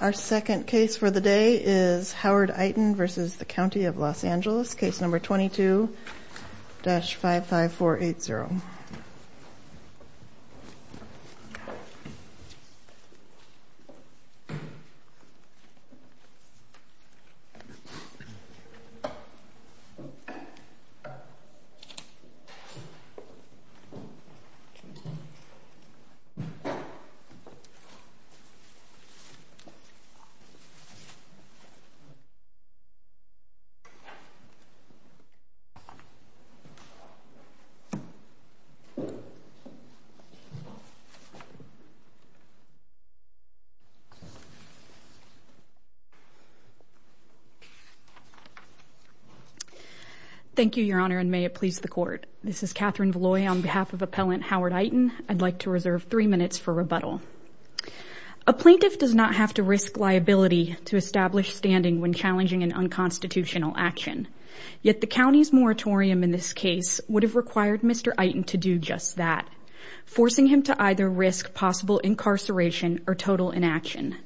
Our second case for the day is Howard Iten v. County of Los Angeles, case number 22-55480. Thank you, Your Honor, and may it please the Court. This is Katherine Veloie on behalf of Appellant Howard Iten. I'd like to reserve three minutes for rebuttal. A plaintiff does not have to risk liability to establish standing when challenging an unconstitutional action. Yet the county's moratorium in this case would have required Mr. Iten to do just that, forcing him to either risk possible incarceration or total inaction.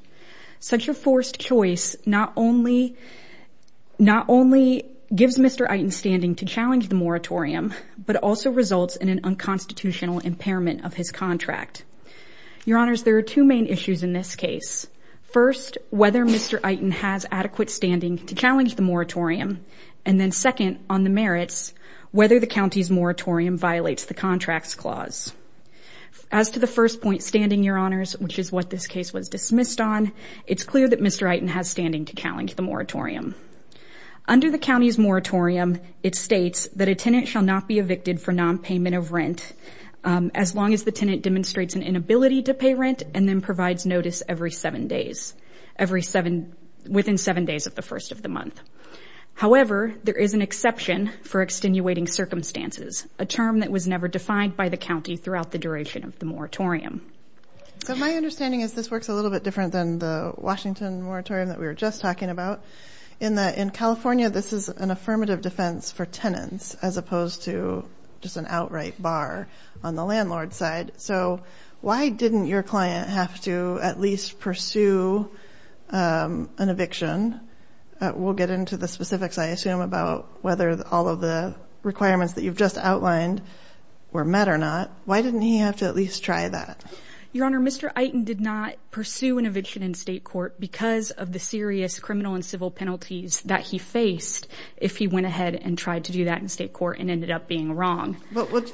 Such a forced choice not only gives Mr. Iten standing to challenge the moratorium, but also results in an unconstitutional impairment of his contract. Your Honors, there are two main issues in this case. First, whether Mr. Iten has adequate standing to challenge the moratorium, and then second, on the merits, whether the county's moratorium violates the Contracts Clause. As to the first point, standing, Your Honors, which is what this case was dismissed on, it's clear that Mr. Iten has standing to challenge the moratorium. Under the county's moratorium, it states that a tenant shall not be evicted for nonpayment of rent as long as the tenant demonstrates an inability to pay rent and then provides notice every seven days, within seven days of the first of the month. However, there is an exception for extenuating circumstances, a term that was never defined by the county throughout the duration of the moratorium. So my understanding is this works a little bit different than the Washington moratorium that we were just talking about, in that in California, this is an affirmative defense for tenants, as opposed to just an outright bar on the landlord's side. So why didn't your client have to at least pursue an eviction? We'll get into the specifics, I assume, about whether all of the requirements that you've just outlined were met or not. Why didn't he have to at least try that? Your Honor, Mr. Iten did not pursue an eviction in state court because of the serious criminal and civil penalties that he faced if he went ahead and tried to do that in state court and ended up being wrong.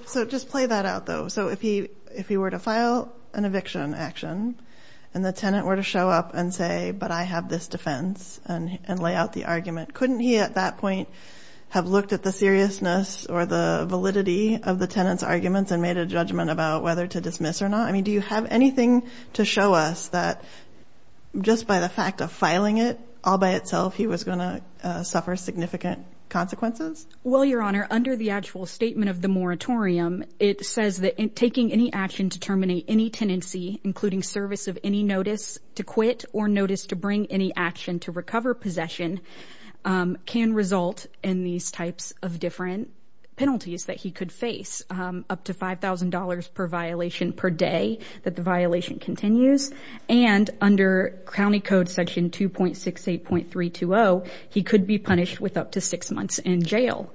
So just play that out, though. So if he were to file an eviction action and the tenant were to show up and say, but I have this defense and lay out the argument, couldn't he at that point have looked at the seriousness or the validity of the tenant's arguments and made a judgment about whether to dismiss or not? I mean, do you have anything to show us that just by the fact of filing it all by itself, he was going to suffer significant consequences? Well, Your Honor, under the actual statement of the moratorium, it says that taking any action to terminate any tenancy, including service of any notice to quit or notice to bring any action to recover possession, can result in these types of different penalties that he could face, up to $5,000 per violation per day that the violation continues. And under County Code Section 2.68.320, he could be punished with up to six months in jail.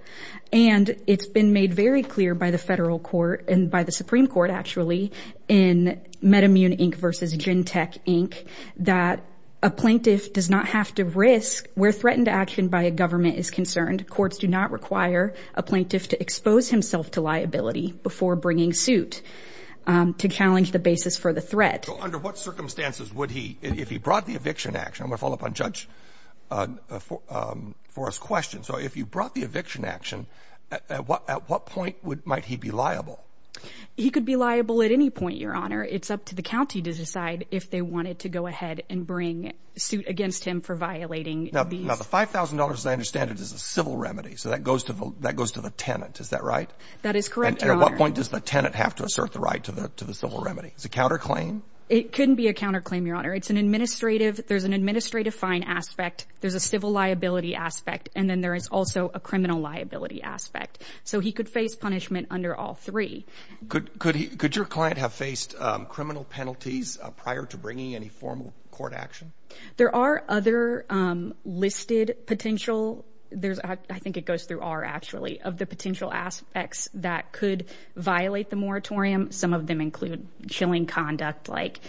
And it's been made very clear by the federal court and by the Supreme Court, actually, in MedImmune, Inc. versus Gentech, Inc., that a plaintiff does not have to risk, where threatened action by a government is concerned. Courts do not require a plaintiff to expose himself to liability before bringing suit to challenge the basis for the threat. So under what circumstances would he, if he brought the eviction action, I'm going to follow up on Judge Forrest's question. So if you brought the eviction action, at what point might he be liable? He could be liable at any point, Your Honor. It's up to the county to decide if they wanted to go ahead and bring suit against him for violating these. Now, the $5,000, as I understand it, is a civil remedy. So that goes to the tenant, is that right? That is correct, Your Honor. And at what point does the tenant have to assert the right to the civil remedy? Is it counterclaim? It couldn't be a counterclaim, Your Honor. It's an administrative, there's an administrative fine aspect, there's a civil liability aspect, and then there is also a criminal liability aspect. So he could face punishment under all three. Could your client have faced criminal penalties prior to bringing any formal court action? There are other listed potential, I think it goes through R actually, of the potential aspects that could violate the moratorium. Some of them include chilling conduct like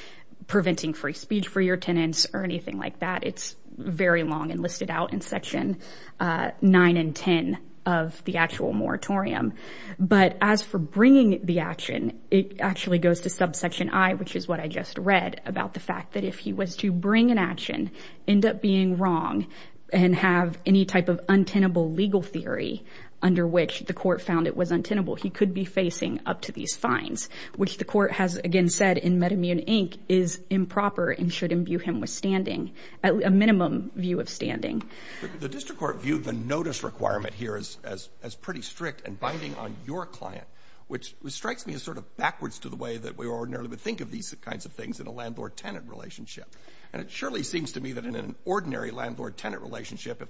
preventing free speech for your tenants or anything like that. It's very long and listed out in section 9 and 10 of the actual moratorium. But as for bringing the action, it actually goes to subsection I, which is what I just read about the fact that if he was to bring an action, end up being wrong and have any type of untenable legal theory under which the court found it was untenable, he could be facing up to these fines, which the court has, again, said, is improper and should imbue him with standing, a minimum view of standing. The district court viewed the notice requirement here as pretty strict and binding on your client, which strikes me as sort of backwards to the way that we ordinarily would think of these kinds of things in a landlord-tenant relationship. And it surely seems to me that in an ordinary landlord-tenant relationship,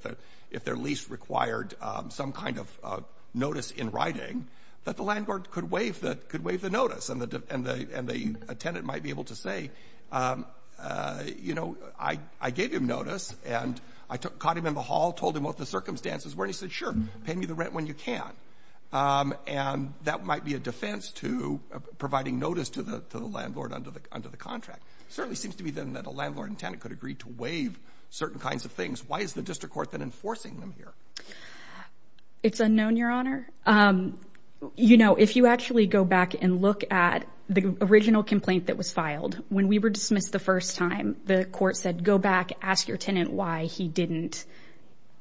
if they're least required some kind of notice in writing, that the landlord could waive the notice, and the tenant might be able to say, you know, I gave him notice, and I caught him in the hall, told him what the circumstances were, and he said, sure, pay me the rent when you can. And that might be a defense to providing notice to the landlord under the contract. It certainly seems to me, then, that a landlord-tenant could agree to waive certain kinds of things. Why is the district court then enforcing them here? It's unknown, Your Honor. You know, if you actually go back and look at the original complaint that was filed, when we were dismissed the first time, the court said, go back, ask your tenant why he didn't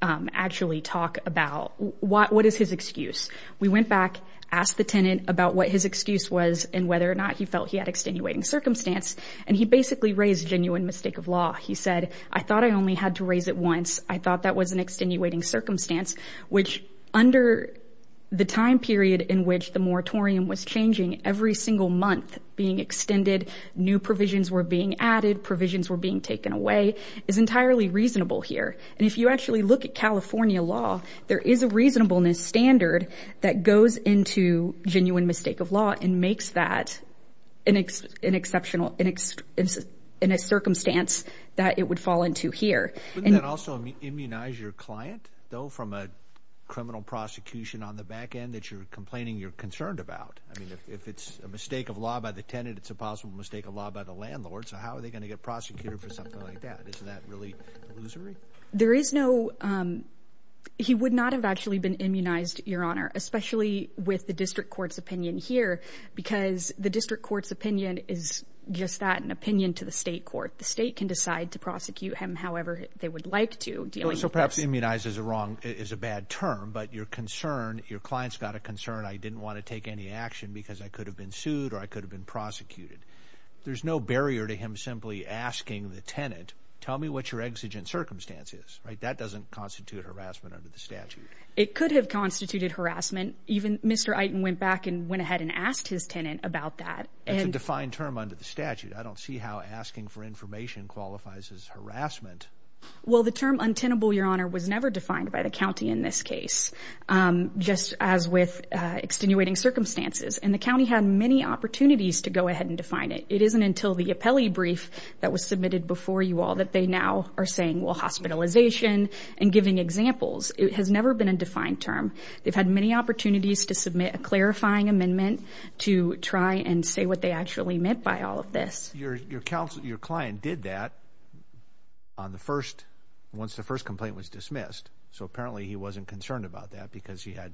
actually talk about what is his excuse. We went back, asked the tenant about what his excuse was and whether or not he felt he had extenuating circumstance, and he basically raised genuine mistake of law. He said, I thought I only had to raise it once. I thought that was an extenuating circumstance, which under the time period in which the moratorium was changing, every single month being extended, new provisions were being added, provisions were being taken away, is entirely reasonable here. And if you actually look at California law, there is a reasonableness standard that goes into genuine mistake of law and makes that an exceptional circumstance that it would fall into here. Wouldn't that also immunize your client, though, from a criminal prosecution on the back end that you're complaining you're concerned about? I mean, if it's a mistake of law by the tenant, it's a possible mistake of law by the landlord, so how are they going to get prosecuted for something like that? Isn't that really illusory? There is no—he would not have actually been immunized, Your Honor, especially with the district court's opinion here because the district court's opinion is just that, an opinion to the state court. The state can decide to prosecute him however they would like to. So perhaps immunize is a bad term, but you're concerned, your client's got a concern, I didn't want to take any action because I could have been sued or I could have been prosecuted. There's no barrier to him simply asking the tenant, tell me what your exigent circumstance is, right? That doesn't constitute harassment under the statute. It could have constituted harassment. Even Mr. Iton went back and went ahead and asked his tenant about that. That's a defined term under the statute. I don't see how asking for information qualifies as harassment. Well, the term untenable, Your Honor, was never defined by the county in this case, just as with extenuating circumstances, and the county had many opportunities to go ahead and define it. It isn't until the appellee brief that was submitted before you all that they now are saying, well, hospitalization and giving examples. It has never been a defined term. They've had many opportunities to submit a clarifying amendment to try and say what they actually meant by all of this. Your client did that once the first complaint was dismissed, so apparently he wasn't concerned about that because he had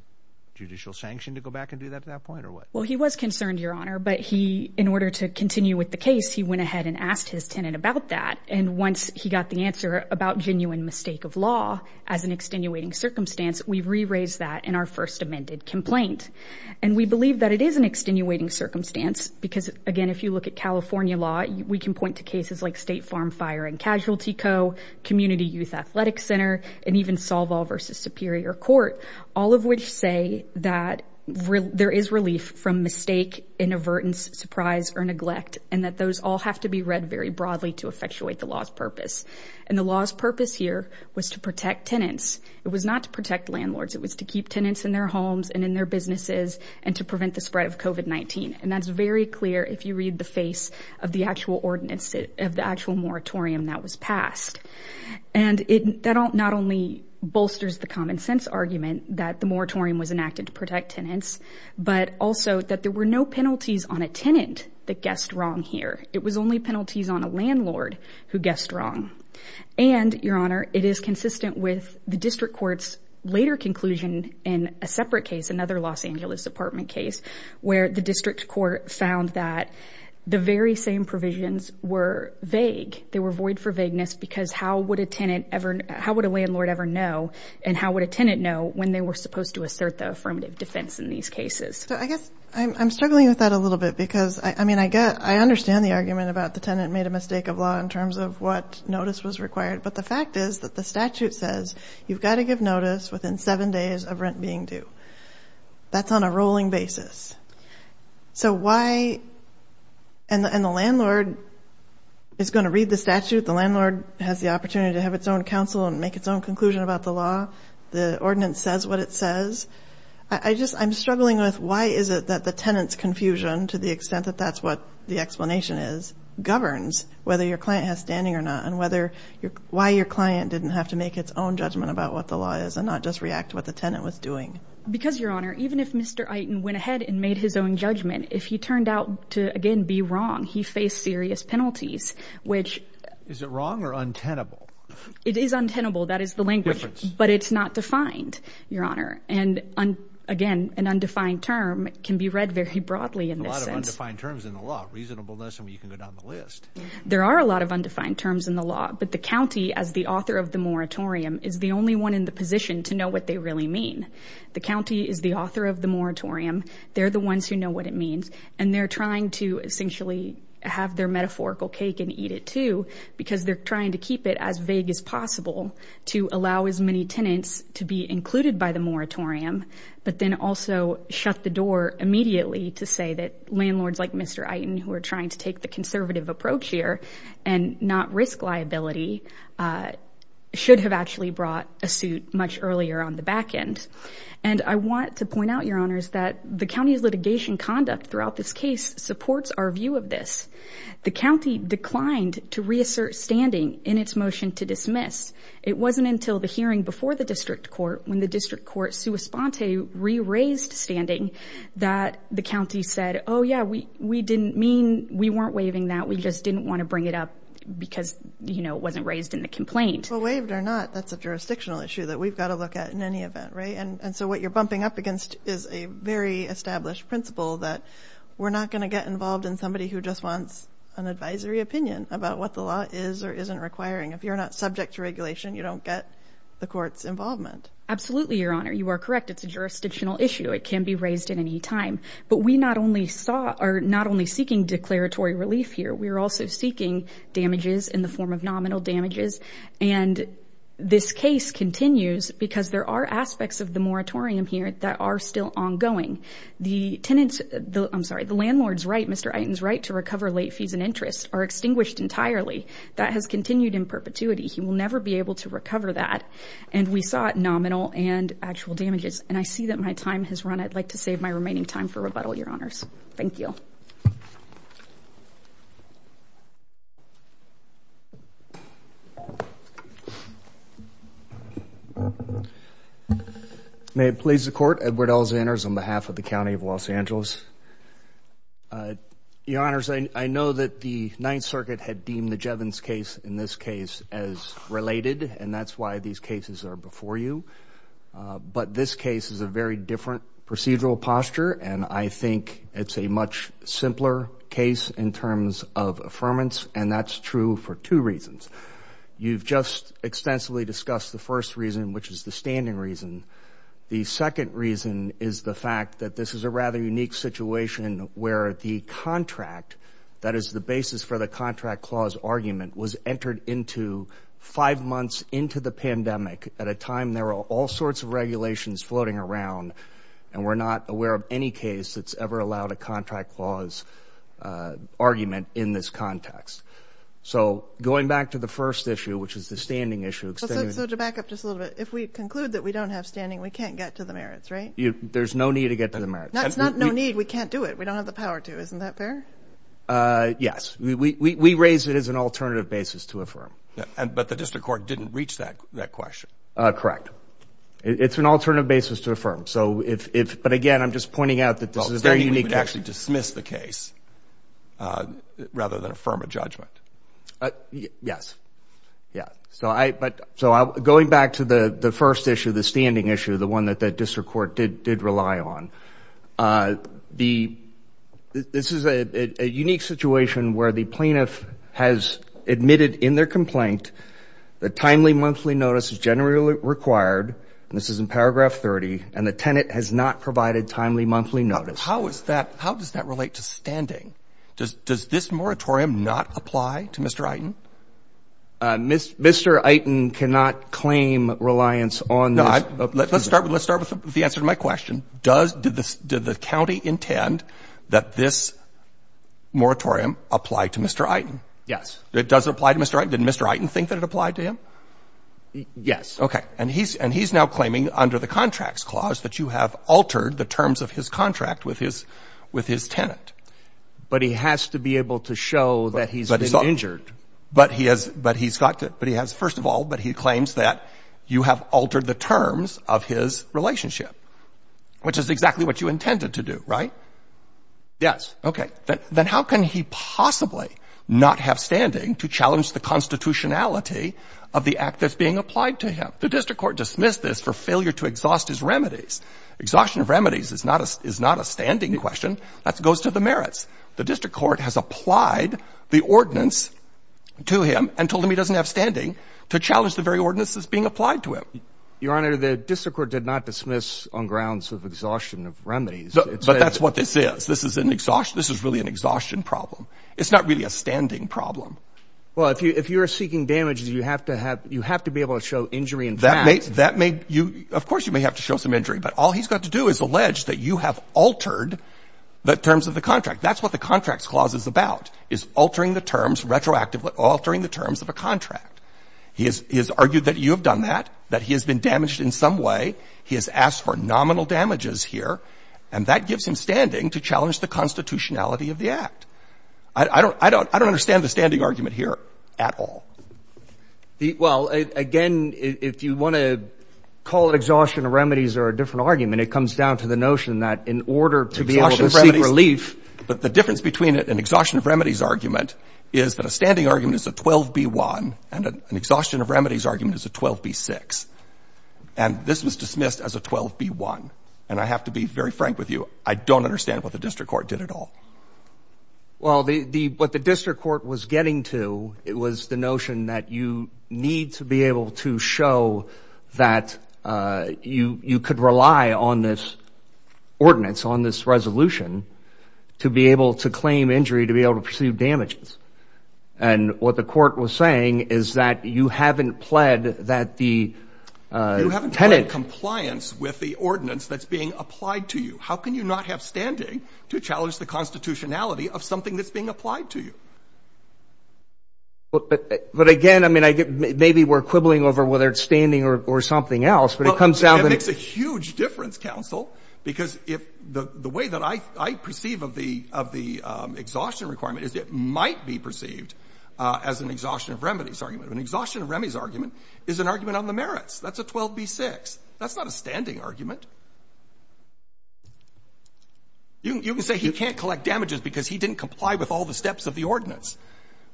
judicial sanction to go back and do that at that point or what? Well, he was concerned, Your Honor, but in order to continue with the case, he went ahead and asked his tenant about that, and once he got the answer about genuine mistake of law as an extenuating circumstance, we've re-raised that in our first amended complaint. And we believe that it is an extenuating circumstance because, again, if you look at California law, we can point to cases like State Farm Fire and Casualty Co., Community Youth Athletic Center, and even Solval v. Superior Court, all of which say that there is relief from mistake, inavertance, surprise, or neglect, and that those all have to be read very broadly to effectuate the law's purpose. And the law's purpose here was to protect tenants. It was not to protect landlords. It was to keep tenants in their homes and in their businesses and to prevent the spread of COVID-19, and that's very clear if you read the face of the actual moratorium that was passed. And that not only bolsters the common-sense argument that the moratorium was enacted to protect tenants, but also that there were no penalties on a tenant that guessed wrong here. It was only penalties on a landlord who guessed wrong. And, Your Honor, it is consistent with the district court's later conclusion in a separate case, another Los Angeles apartment case, where the district court found that the very same provisions were vague. They were void for vagueness because how would a tenant ever know, how would a landlord ever know, and how would a tenant know when they were supposed to assert the affirmative defense in these cases? So I guess I'm struggling with that a little bit because, I mean, I get, I understand the argument about the tenant made a mistake of law in terms of what notice was required, but the fact is that the statute says you've got to give notice within seven days of rent being due. That's on a rolling basis. So why, and the landlord is going to read the statute. The landlord has the opportunity to have its own counsel and make its own conclusion about the law. The ordinance says what it says. I just, I'm struggling with why is it that the tenant's confusion, to the extent that that's what the explanation is, governs whether your client has standing or not and whether, why your client didn't have to make its own judgment about what the law is and not just react to what the tenant was doing. Because, Your Honor, even if Mr. Iton went ahead and made his own judgment, if he turned out to, again, be wrong, he faced serious penalties, which... Is it wrong or untenable? It is untenable. That is the language... Difference. But it's not defined, Your Honor. And, again, an undefined term can be read very broadly in this sense. There are a lot of undefined terms in the law. Reasonableness, I mean, you can go down the list. There are a lot of undefined terms in the law. But the county, as the author of the moratorium, is the only one in the position to know what they really mean. The county is the author of the moratorium. They're the ones who know what it means. And they're trying to essentially have their metaphorical cake and eat it too because they're trying to keep it as vague as possible to allow as many tenants to be included by the moratorium but then also shut the door immediately to say that landlords like Mr. Eiten, who are trying to take the conservative approach here and not risk liability, should have actually brought a suit much earlier on the back end. And I want to point out, Your Honors, that the county's litigation conduct throughout this case supports our view of this. The county declined to reassert standing in its motion to dismiss. It wasn't until the hearing before the district court, when the district court sua sponte, re-raised standing, that the county said, oh, yeah, we didn't mean we weren't waiving that. We just didn't want to bring it up because, you know, it wasn't raised in the complaint. Well, waived or not, that's a jurisdictional issue that we've got to look at in any event, right? And so what you're bumping up against is a very established principle that we're not going to get involved in somebody who just wants an advisory opinion about what the law is or isn't requiring. If you're not subject to regulation, you don't get the court's involvement. Absolutely, Your Honor, you are correct. It's a jurisdictional issue. It can be raised at any time. But we not only sought or not only seeking declaratory relief here, we are also seeking damages in the form of nominal damages. And this case continues because there are aspects of the moratorium here that are still ongoing. The tenants, I'm sorry, the landlord's right, Mr. Iton's right to recover late fees and interest are extinguished entirely. That has continued in perpetuity. He will never be able to recover that. And we sought nominal and actual damages. And I see that my time has run. I'd like to save my remaining time for rebuttal, Your Honors. Thank you. May it please the Court. Edward Elzanders on behalf of the County of Los Angeles. Your Honors, I know that the Ninth Circuit had deemed the Jevons case in this case as related. And that's why these cases are before you. But this case is a very different procedural posture. And I think it's a much simpler case in terms of affirmance. And that's true for two reasons. You've just extensively discussed the first reason, which is the standing reason. The second reason is the fact that this is a rather unique situation where the contract, that is the basis for the contract clause argument, was entered into five months into the pandemic at a time there were all sorts of regulations floating around. And we're not aware of any case that's ever allowed a contract clause argument in this context. So going back to the first issue, which is the standing issue. So to back up just a little bit, if we conclude that we don't have standing, we can't get to the merits, right? There's no need to get to the merits. That's not no need. We can't do it. We don't have the power to. Isn't that fair? Yes. We raise it as an alternative basis to affirm. But the district court didn't reach that question. Correct. It's an alternative basis to affirm. But, again, I'm just pointing out that this is a very unique case. Standing would actually dismiss the case rather than affirm a judgment. Yes. Yeah. So going back to the first issue, the standing issue, the one that the district court did rely on, this is a unique situation where the plaintiff has admitted in their complaint that timely monthly notice is generally required, and this is in paragraph 30, and the tenant has not provided timely monthly notice. How does that relate to standing? Does this moratorium not apply to Mr. Eiten? Mr. Eiten cannot claim reliance on this. No. Let's start with the answer to my question. Does the county intend that this moratorium apply to Mr. Eiten? Yes. Does it apply to Mr. Eiten? Did Mr. Eiten think that it applied to him? Yes. Okay. And he's now claiming under the contracts clause that you have altered the terms of his contract with his tenant. But he has to be able to show that he's been injured. But he's got to — but he has — first of all, but he claims that you have altered the terms of his relationship, which is exactly what you intended to do, right? Yes. Okay. Then how can he possibly not have standing to challenge the constitutionality of the act that's being applied to him? The district court dismissed this for failure to exhaust his remedies. Exhaustion of remedies is not a standing question. That goes to the merits. The district court has applied the ordinance to him and told him he doesn't have standing to challenge the very ordinance that's being applied to him. Your Honor, the district court did not dismiss on grounds of exhaustion of remedies. But that's what this is. This is really an exhaustion problem. It's not really a standing problem. Well, if you are seeking damages, you have to be able to show injury in fact. That may — of course, you may have to show some injury. But all he's got to do is allege that you have altered the terms of the contract. That's what the Contracts Clause is about, is altering the terms, retroactively altering the terms of a contract. He has argued that you have done that, that he has been damaged in some way. He has asked for nominal damages here. And that gives him standing to challenge the constitutionality of the act. I don't understand the standing argument here at all. Well, again, if you want to call it exhaustion of remedies or a different argument, it comes down to the notion that in order to be able to seek relief — Exhaustion of remedies. But the difference between an exhaustion of remedies argument is that a standing argument is a 12b-1 and an exhaustion of remedies argument is a 12b-6. And this was dismissed as a 12b-1. And I have to be very frank with you. I don't understand what the district court did at all. Well, what the district court was getting to, it was the notion that you need to be able to show that you could rely on this ordinance, on this resolution, to be able to claim injury, to be able to pursue damages. And what the court was saying is that you haven't pled that the tenant — You haven't pled compliance with the ordinance that's being applied to you. How can you not have standing to challenge the constitutionality of something that's being applied to you? But again, I mean, maybe we're quibbling over whether it's standing or something else, but it comes down to — Well, it makes a huge difference, counsel, because the way that I perceive of the exhaustion requirement is it might be perceived as an exhaustion of remedies argument. An exhaustion of remedies argument is an argument on the merits. That's a 12b-6. That's not a standing argument. You can say he can't collect damages because he didn't comply with all the steps of the ordinance.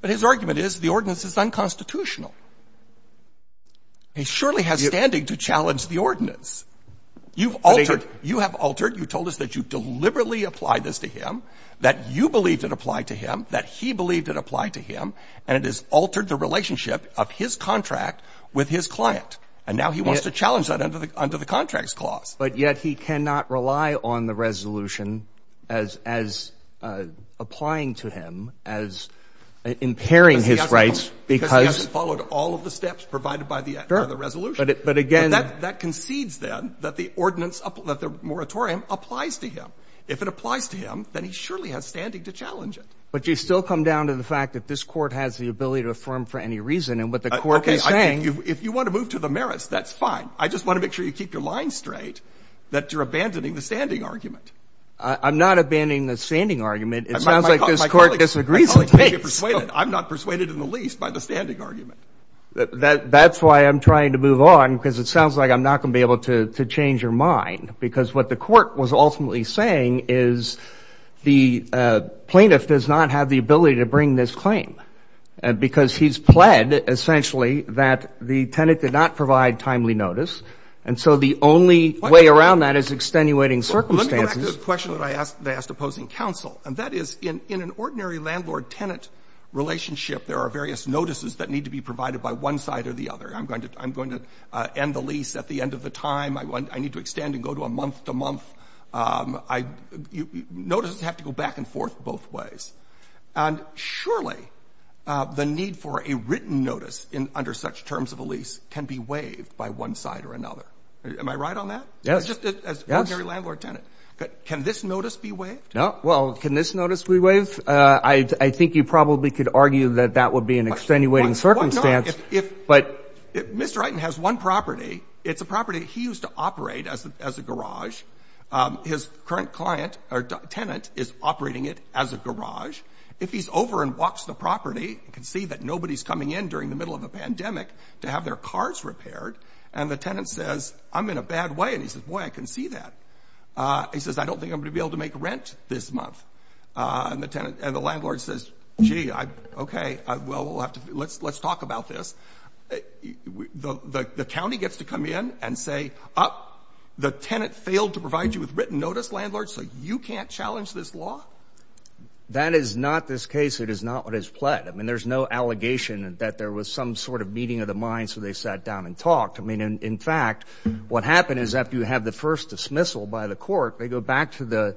But his argument is the ordinance is unconstitutional. He surely has standing to challenge the ordinance. You've altered — you have altered — you told us that you deliberately applied this to him, that you believed it applied to him, that he believed it applied to him, and it has altered the relationship of his contract with his client. And now he wants to challenge that under the Contracts Clause. But yet he cannot rely on the resolution as applying to him, as impairing his rights because — Because he hasn't followed all of the steps provided by the resolution. But again — But that concedes, then, that the ordinance, that the moratorium applies to him. If it applies to him, then he surely has standing to challenge it. But you still come down to the fact that this Court has the ability to affirm for any reason. And what the Court is saying — Okay. If you want to move to the merits, that's fine. I just want to make sure you keep your lines straight, that you're abandoning the standing argument. I'm not abandoning the standing argument. It sounds like this Court disagrees. I'm not persuaded in the least by the standing argument. That's why I'm trying to move on, because it sounds like I'm not going to be able to change your mind. Because what the Court was ultimately saying is the plaintiff does not have the ability to bring this claim. Because he's pled, essentially, that the tenant did not provide timely notice. And so the only way around that is extenuating circumstances. Well, let me go back to the question that I asked the opposing counsel. And that is, in an ordinary landlord-tenant relationship, there are various notices that need to be provided by one side or the other. I'm going to end the lease at the end of the time. I need to extend and go to a month-to-month. Notices have to go back and forth both ways. And surely the need for a written notice under such terms of a lease can be waived by one side or another. Am I right on that? Yes. Just as ordinary landlord-tenant. Can this notice be waived? No. Well, can this notice be waived? I think you probably could argue that that would be an extenuating circumstance. No. But Mr. Eiten has one property. It's a property he used to operate as a garage. His current client or tenant is operating it as a garage. If he's over and walks the property, he can see that nobody's coming in during the middle of a pandemic to have their cars repaired. And the tenant says, I'm in a bad way. And he says, boy, I can see that. He says, I don't think I'm going to be able to make rent this month. And the landlord says, gee, okay, well, let's talk about this. The county gets to come in and say, the tenant failed to provide you with written notice, landlord, so you can't challenge this law? That is not this case. It is not what is pled. I mean, there's no allegation that there was some sort of meeting of the mind, so they sat down and talked. I mean, in fact, what happened is after you have the first dismissal by the court, they go back to the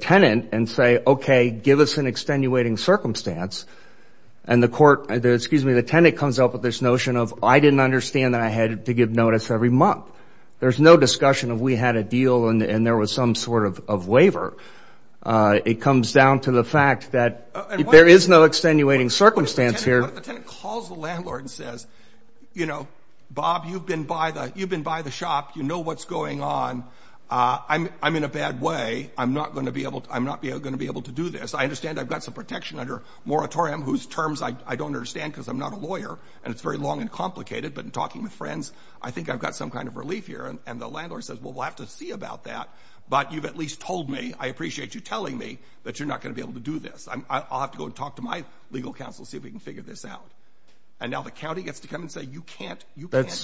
tenant and say, okay, give us an extenuating circumstance. And the tenant comes up with this notion of I didn't understand that I had to give notice every month. There's no discussion of we had a deal and there was some sort of waiver. It comes down to the fact that there is no extenuating circumstance here. But the tenant calls the landlord and says, you know, Bob, you've been by the shop. You know what's going on. I'm in a bad way. I'm not going to be able to do this. I understand I've got some protection under moratorium whose terms I don't understand because I'm not a lawyer, and it's very long and complicated, but in talking with friends, I think I've got some kind of relief here. And the landlord says, well, we'll have to see about that, but you've at least told me, I appreciate you telling me that you're not going to be able to do this. I'll have to go and talk to my legal counsel and see if we can figure this out. And now the county gets to come and say you can't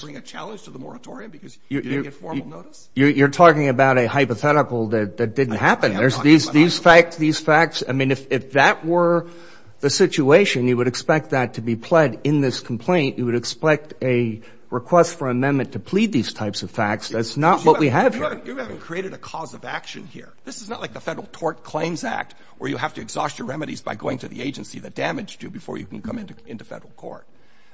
bring a challenge to the moratorium because you didn't get formal notice? You're talking about a hypothetical that didn't happen. These facts, these facts, I mean, if that were the situation, you would expect that to be pled in this complaint. You would expect a request for amendment to plead these types of facts. That's not what we have here. You haven't created a cause of action here. This is not like the Federal Tort Claims Act where you have to exhaust your remedies by going to the agency that damaged you before you can come into federal court.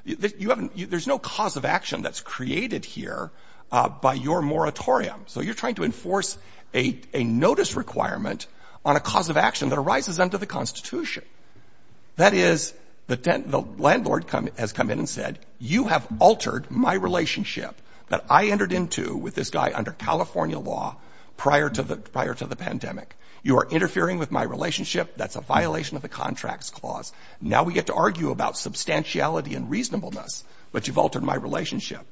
There's no cause of action that's created here by your moratorium. So you're trying to enforce a notice requirement on a cause of action that arises under the Constitution. That is, the landlord has come in and said, you have altered my relationship that I entered into with this guy under California law prior to the pandemic. You are interfering with my relationship. That's a violation of the Contracts Clause. Now we get to argue about substantiality and reasonableness, but you've altered my relationship.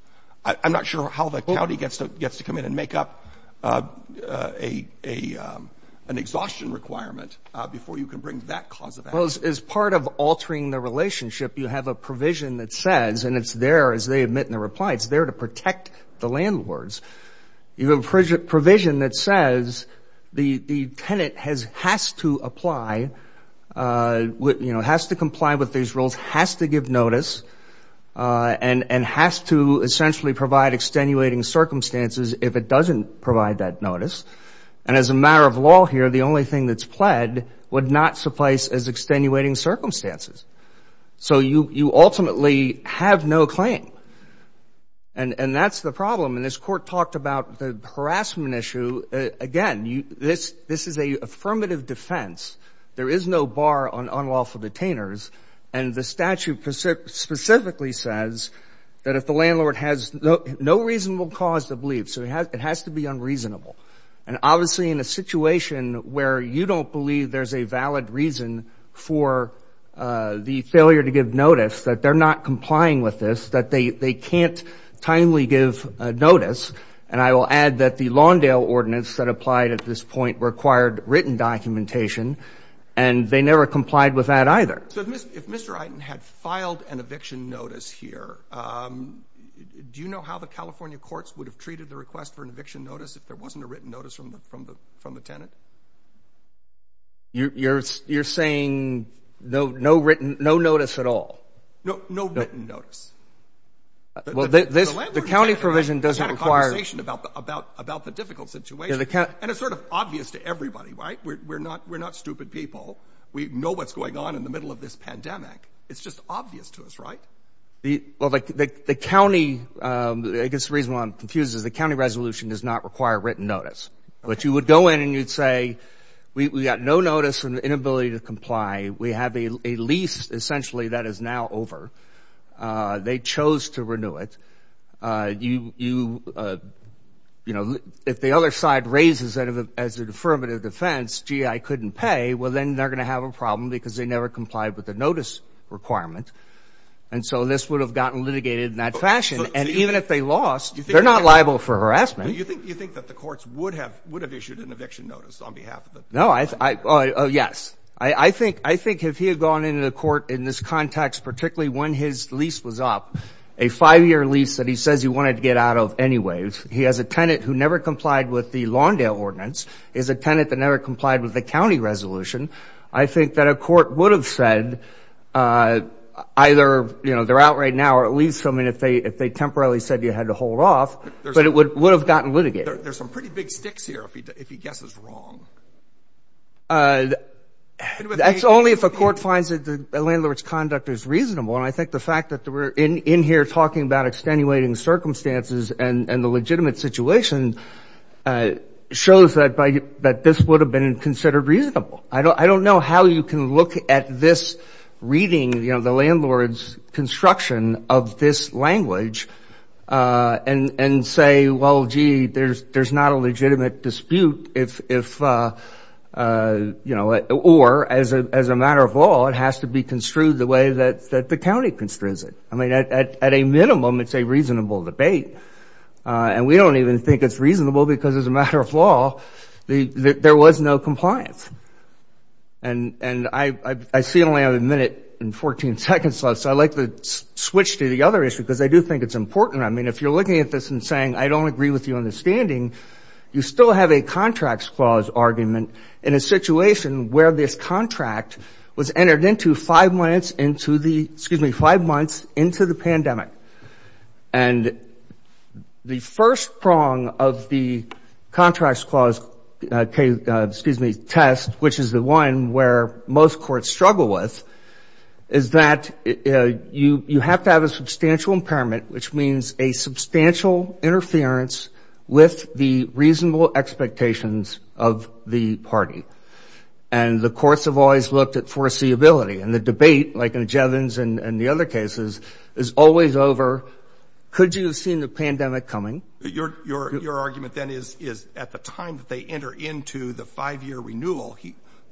I'm not sure how the county gets to come in and make up an exhaustion requirement before you can bring that cause of action. As part of altering the relationship, you have a provision that says, and it's there, as they admit in the reply, it's there to protect the landlords. You have a provision that says the tenant has to apply, has to comply with these rules, has to give notice, and has to essentially provide extenuating circumstances if it doesn't provide that notice. And as a matter of law here, the only thing that's pled would not suffice as extenuating circumstances. So you ultimately have no claim. And that's the problem. And this Court talked about the harassment issue. Again, this is an affirmative defense. There is no bar on unlawful detainers. And the statute specifically says that if the landlord has no reasonable cause to believe, so it has to be unreasonable. And obviously in a situation where you don't believe there's a valid reason for the failure to give notice, that they're not complying with this, that they can't timely give notice. And I will add that the Lawndale ordinance that applied at this point required written documentation, and they never complied with that either. So if Mr. Eiten had filed an eviction notice here, do you know how the California courts would have treated the request for an eviction notice if there wasn't a written notice from the tenant? You're saying no written notice at all? No written notice. The landlord has had a conversation about the difficult situation. And it's sort of obvious to everybody, right? We're not stupid people. We know what's going on in the middle of this pandemic. It's just obvious to us, right? Well, the county, I guess the reason why I'm confused is the county resolution does not require written notice. But you would go in and you'd say, we've got no notice and inability to comply. We have a lease essentially that is now over. They chose to renew it. If the other side raises it as an affirmative defense, gee, I couldn't pay, well, then they're going to have a problem because they never complied with the notice requirement. And so this would have gotten litigated in that fashion. And even if they lost, they're not liable for harassment. Do you think that the courts would have issued an eviction notice on behalf of the tenant? No. Yes. I think if he had gone into the court in this context, particularly when his lease was up, a five-year lease that he says he wanted to get out of anyway, he has a tenant who never complied with the Lawndale ordinance, is a tenant that never complied with the county resolution, I think that a court would have said either, you know, they're out right now or at least, I mean, if they temporarily said you had to hold off, but it would have gotten litigated. There's some pretty big sticks here if he guesses wrong. That's only if a court finds that the landlord's conduct is reasonable. And I think the fact that we're in here talking about extenuating circumstances and the legitimate situation shows that this would have been considered reasonable. I don't know how you can look at this reading, you know, construction of this language and say, well, gee, there's not a legitimate dispute if, you know, or as a matter of law, it has to be construed the way that the county construes it. I mean, at a minimum, it's a reasonable debate. And we don't even think it's reasonable because as a matter of law, there was no compliance. And I see I only have a minute and 14 seconds left, so I'd like to switch to the other issue because I do think it's important. I mean, if you're looking at this and saying I don't agree with your understanding, you still have a contracts clause argument in a situation where this contract was entered into five months into the pandemic. And the first prong of the contracts clause test, which is the one where most courts struggle with, is that you have to have a substantial impairment, which means a substantial interference with the reasonable expectations of the party. And the courts have always looked at foreseeability. And the debate, like in Jevons and the other cases, is always over. Could you have seen the pandemic coming? Your argument, then, is at the time that they enter into the five-year renewal,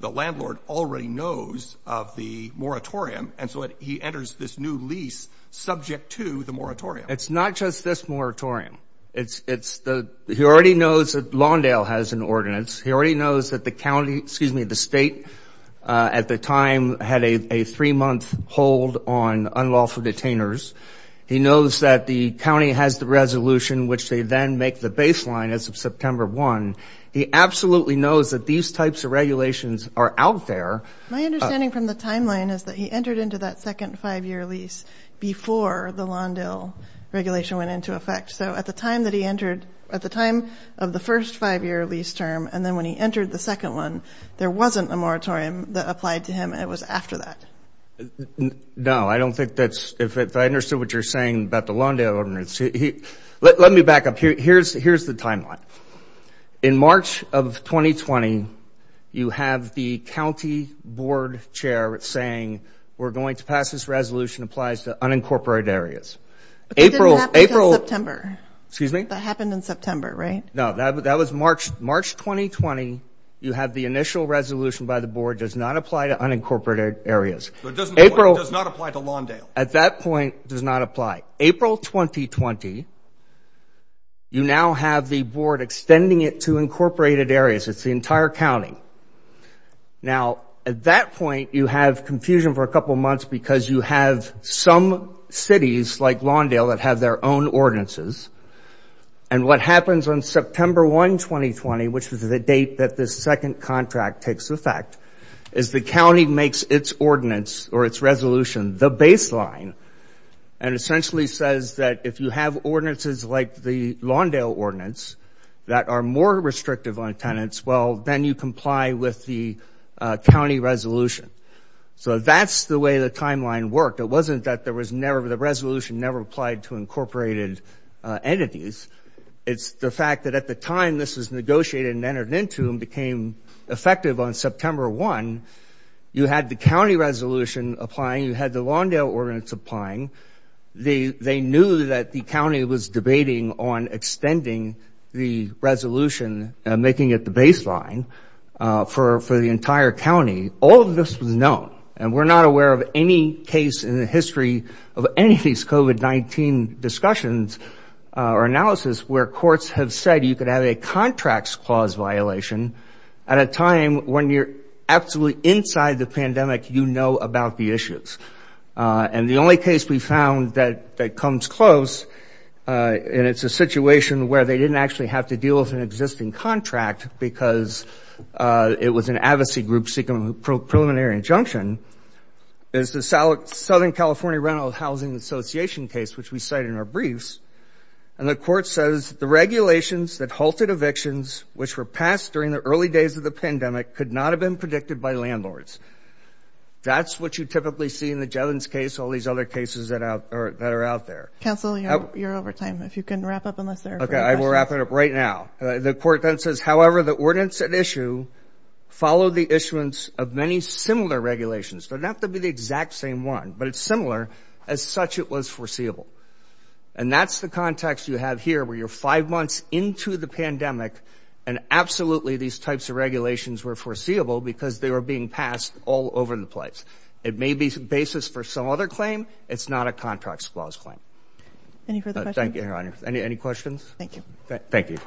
the landlord already knows of the moratorium. And so he enters this new lease subject to the moratorium. It's not just this moratorium. It's the he already knows that Lawndale has an ordinance. He already knows that the state at the time had a three-month hold on unlawful detainers. He knows that the county has the resolution, which they then make the baseline as of September 1. He absolutely knows that these types of regulations are out there. My understanding from the timeline is that he entered into that second five-year lease before the Lawndale regulation went into effect. So at the time that he entered, at the time of the first five-year lease term, and then when he entered the second one, there wasn't a moratorium that applied to him. It was after that. No, I don't think that's – if I understood what you're saying about the Lawndale ordinance. Let me back up. Here's the timeline. In March of 2020, you have the county board chair saying, we're going to pass this resolution, applies to unincorporated areas. But that didn't happen until September. Excuse me? That happened in September, right? No, that was March 2020. You have the initial resolution by the board, does not apply to unincorporated areas. It does not apply to Lawndale. At that point, it does not apply. April 2020, you now have the board extending it to incorporated areas. It's the entire county. Now, at that point, you have confusion for a couple months because you have some cities like Lawndale that have their own ordinances. And what happens on September 1, 2020, which was the date that this second contract takes effect, is the county makes its ordinance or its resolution the baseline and essentially says that if you have ordinances like the Lawndale ordinance that are more restrictive on tenants, well, then you comply with the county resolution. So that's the way the timeline worked. It wasn't that the resolution never applied to incorporated entities. It's the fact that at the time this was negotiated and entered into and became effective on September 1, you had the county resolution applying. You had the Lawndale ordinance applying. They knew that the county was debating on extending the resolution and making it the baseline for the entire county. All of this was known. And we're not aware of any case in the history of any of these COVID-19 discussions or analysis where courts have said you could have a contracts clause violation at a time when you're absolutely inside the pandemic, you know about the issues. And the only case we found that comes close, and it's a situation where they didn't actually have to deal with an existing contract because it was an advocacy group seeking a preliminary injunction, is the Southern California Rental Housing Association case, which we cite in our briefs. And the court says the regulations that halted evictions, which were passed during the early days of the pandemic, could not have been predicted by landlords. That's what you typically see in the Jevons case, all these other cases that are out there. Counsel, you're over time. If you can wrap up unless there are further questions. Okay, I will wrap it up right now. The court then says, however, the ordinance at issue followed the issuance of many similar regulations. They don't have to be the exact same one, but it's similar, as such it was foreseeable. And that's the context you have here where you're five months into the pandemic and absolutely these types of regulations were foreseeable because they were being passed all over the place. It may be the basis for some other claim. It's not a contracts clause claim. Any further questions? Thank you, Your Honor. Any questions? Thank you. Thank you.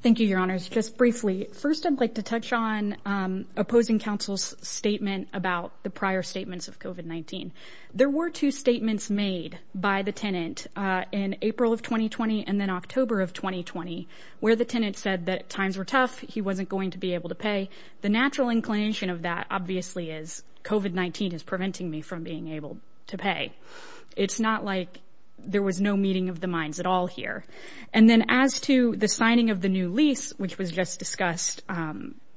Thank you, Your Honor. Just briefly. First, I'd like to touch on opposing counsel's statement about the prior statements of COVID-19. There were two statements made by the tenant in April of 2020 and then October of 2020, where the tenant said that times were tough, he wasn't going to be able to pay. The natural inclination of that obviously is COVID-19 is preventing me from being able to pay. It's not like there was no meeting of the minds at all here. And then as to the signing of the new lease, which was just discussed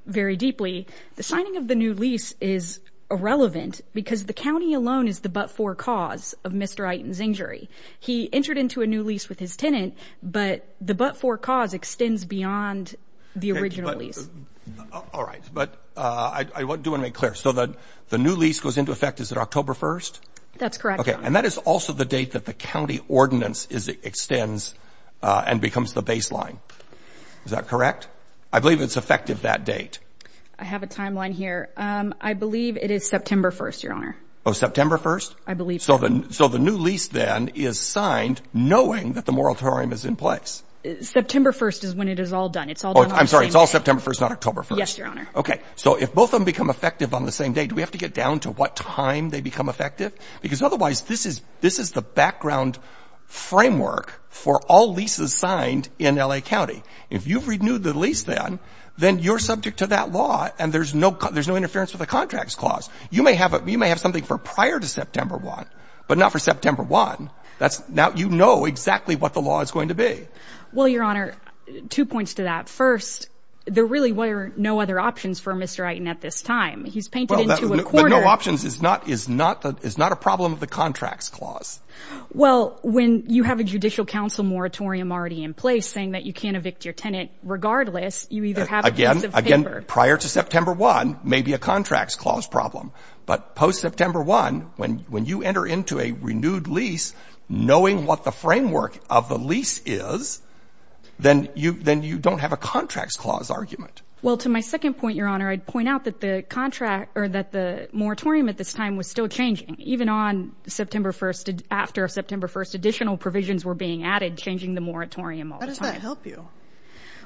very deeply, the signing of the new lease is irrelevant because the county alone is the but-for cause of Mr. Iton's injury. He entered into a new lease with his tenant, but the but-for cause extends beyond the original lease. All right. But I do want to make clear. So the new lease goes into effect, is it October 1st? That's correct, Your Honor. Okay. And that is also the date that the county ordinance extends and becomes the baseline. Is that correct? I believe it's effective that date. I have a timeline here. I believe it is September 1st, Your Honor. Oh, September 1st? I believe so. So the new lease then is signed knowing that the moratorium is in place. September 1st is when it is all done. Oh, I'm sorry. It's all September 1st, not October 1st. Yes, Your Honor. Okay. So if both of them become effective on the same day, do we have to get down to what time they become effective? Because otherwise this is the background framework for all leases signed in L.A. County. If you've renewed the lease then, then you're subject to that law, and there's no interference with the contracts clause. You may have something for prior to September 1, but not for September 1. Now you know exactly what the law is going to be. Well, Your Honor, two points to that. First, there really were no other options for Mr. Eitan at this time. He's painted into a corner. But no options is not a problem of the contracts clause. Well, when you have a judicial counsel moratorium already in place saying that you can't evict your tenant regardless, you either have a piece of paper. Again, prior to September 1 may be a contracts clause problem. But post-September 1, when you enter into a renewed lease, knowing what the framework of the lease is, then you don't have a contracts clause argument. Well, to my second point, Your Honor, I'd point out that the contract or that the moratorium at this time was still changing. Even on September 1, after September 1, additional provisions were being added, changing the moratorium all the time. How does that help you?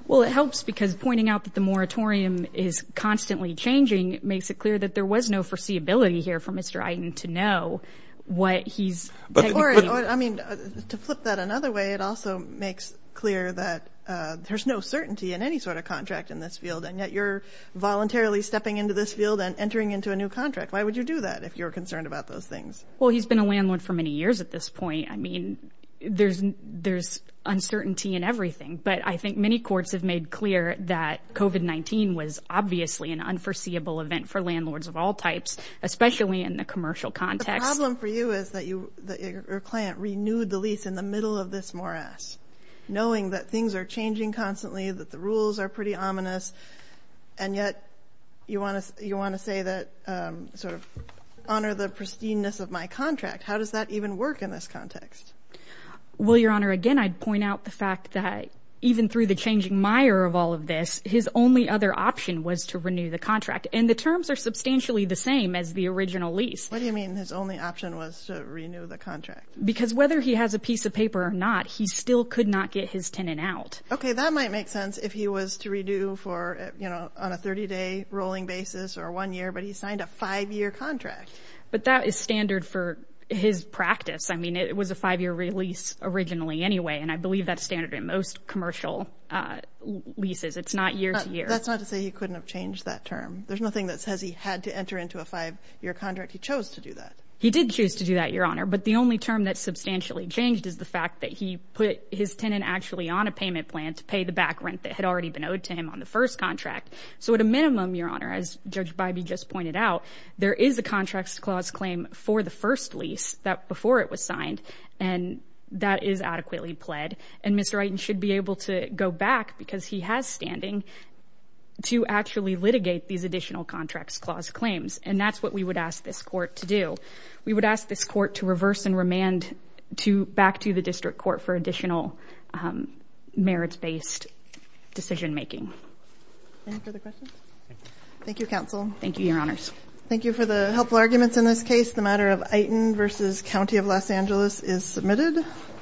Well, it helps because pointing out that the moratorium is constantly changing makes it clear that there was no foreseeability here for Mr. Eitan to know what he's – Or, I mean, to flip that another way, it also makes clear that there's no certainty in any sort of contract in this field, and yet you're voluntarily stepping into this field and entering into a new contract. Why would you do that if you're concerned about those things? Well, he's been a landlord for many years at this point. I mean, there's uncertainty in everything. But I think many courts have made clear that COVID-19 was obviously an unforeseeable event for landlords of all types, especially in the commercial context. The problem for you is that your client renewed the lease in the middle of this morass, knowing that things are changing constantly, that the rules are pretty ominous, and yet you want to say that – sort of honor the pristineness of my contract. How does that even work in this context? Well, Your Honor, again, I'd point out the fact that even through the changing mire of all of this, his only other option was to renew the contract. And the terms are substantially the same as the original lease. What do you mean his only option was to renew the contract? Because whether he has a piece of paper or not, he still could not get his tenant out. Okay, that might make sense if he was to redo for, you know, on a 30-day rolling basis or one year, but he signed a five-year contract. But that is standard for his practice. I mean, it was a five-year lease originally anyway, and I believe that's standard in most commercial leases. It's not year-to-year. That's not to say he couldn't have changed that term. There's nothing that says he had to enter into a five-year contract. He chose to do that. He did choose to do that, Your Honor. But the only term that substantially changed is the fact that he put his tenant actually on a payment plan to pay the back rent that had already been owed to him on the first contract. So at a minimum, Your Honor, as Judge Bybee just pointed out, there is a contracts clause claim for the first lease before it was signed, and that is adequately pled. And Mr. Wrighton should be able to go back, because he has standing, to actually litigate these additional contracts clause claims, and that's what we would ask this court to do. We would ask this court to reverse and remand back to the district court for additional merits-based decision-making. Any further questions? Thank you, Counsel. Thank you, Your Honors. Thank you for the helpful arguments in this case. The matter of Iton v. County of Los Angeles is submitted.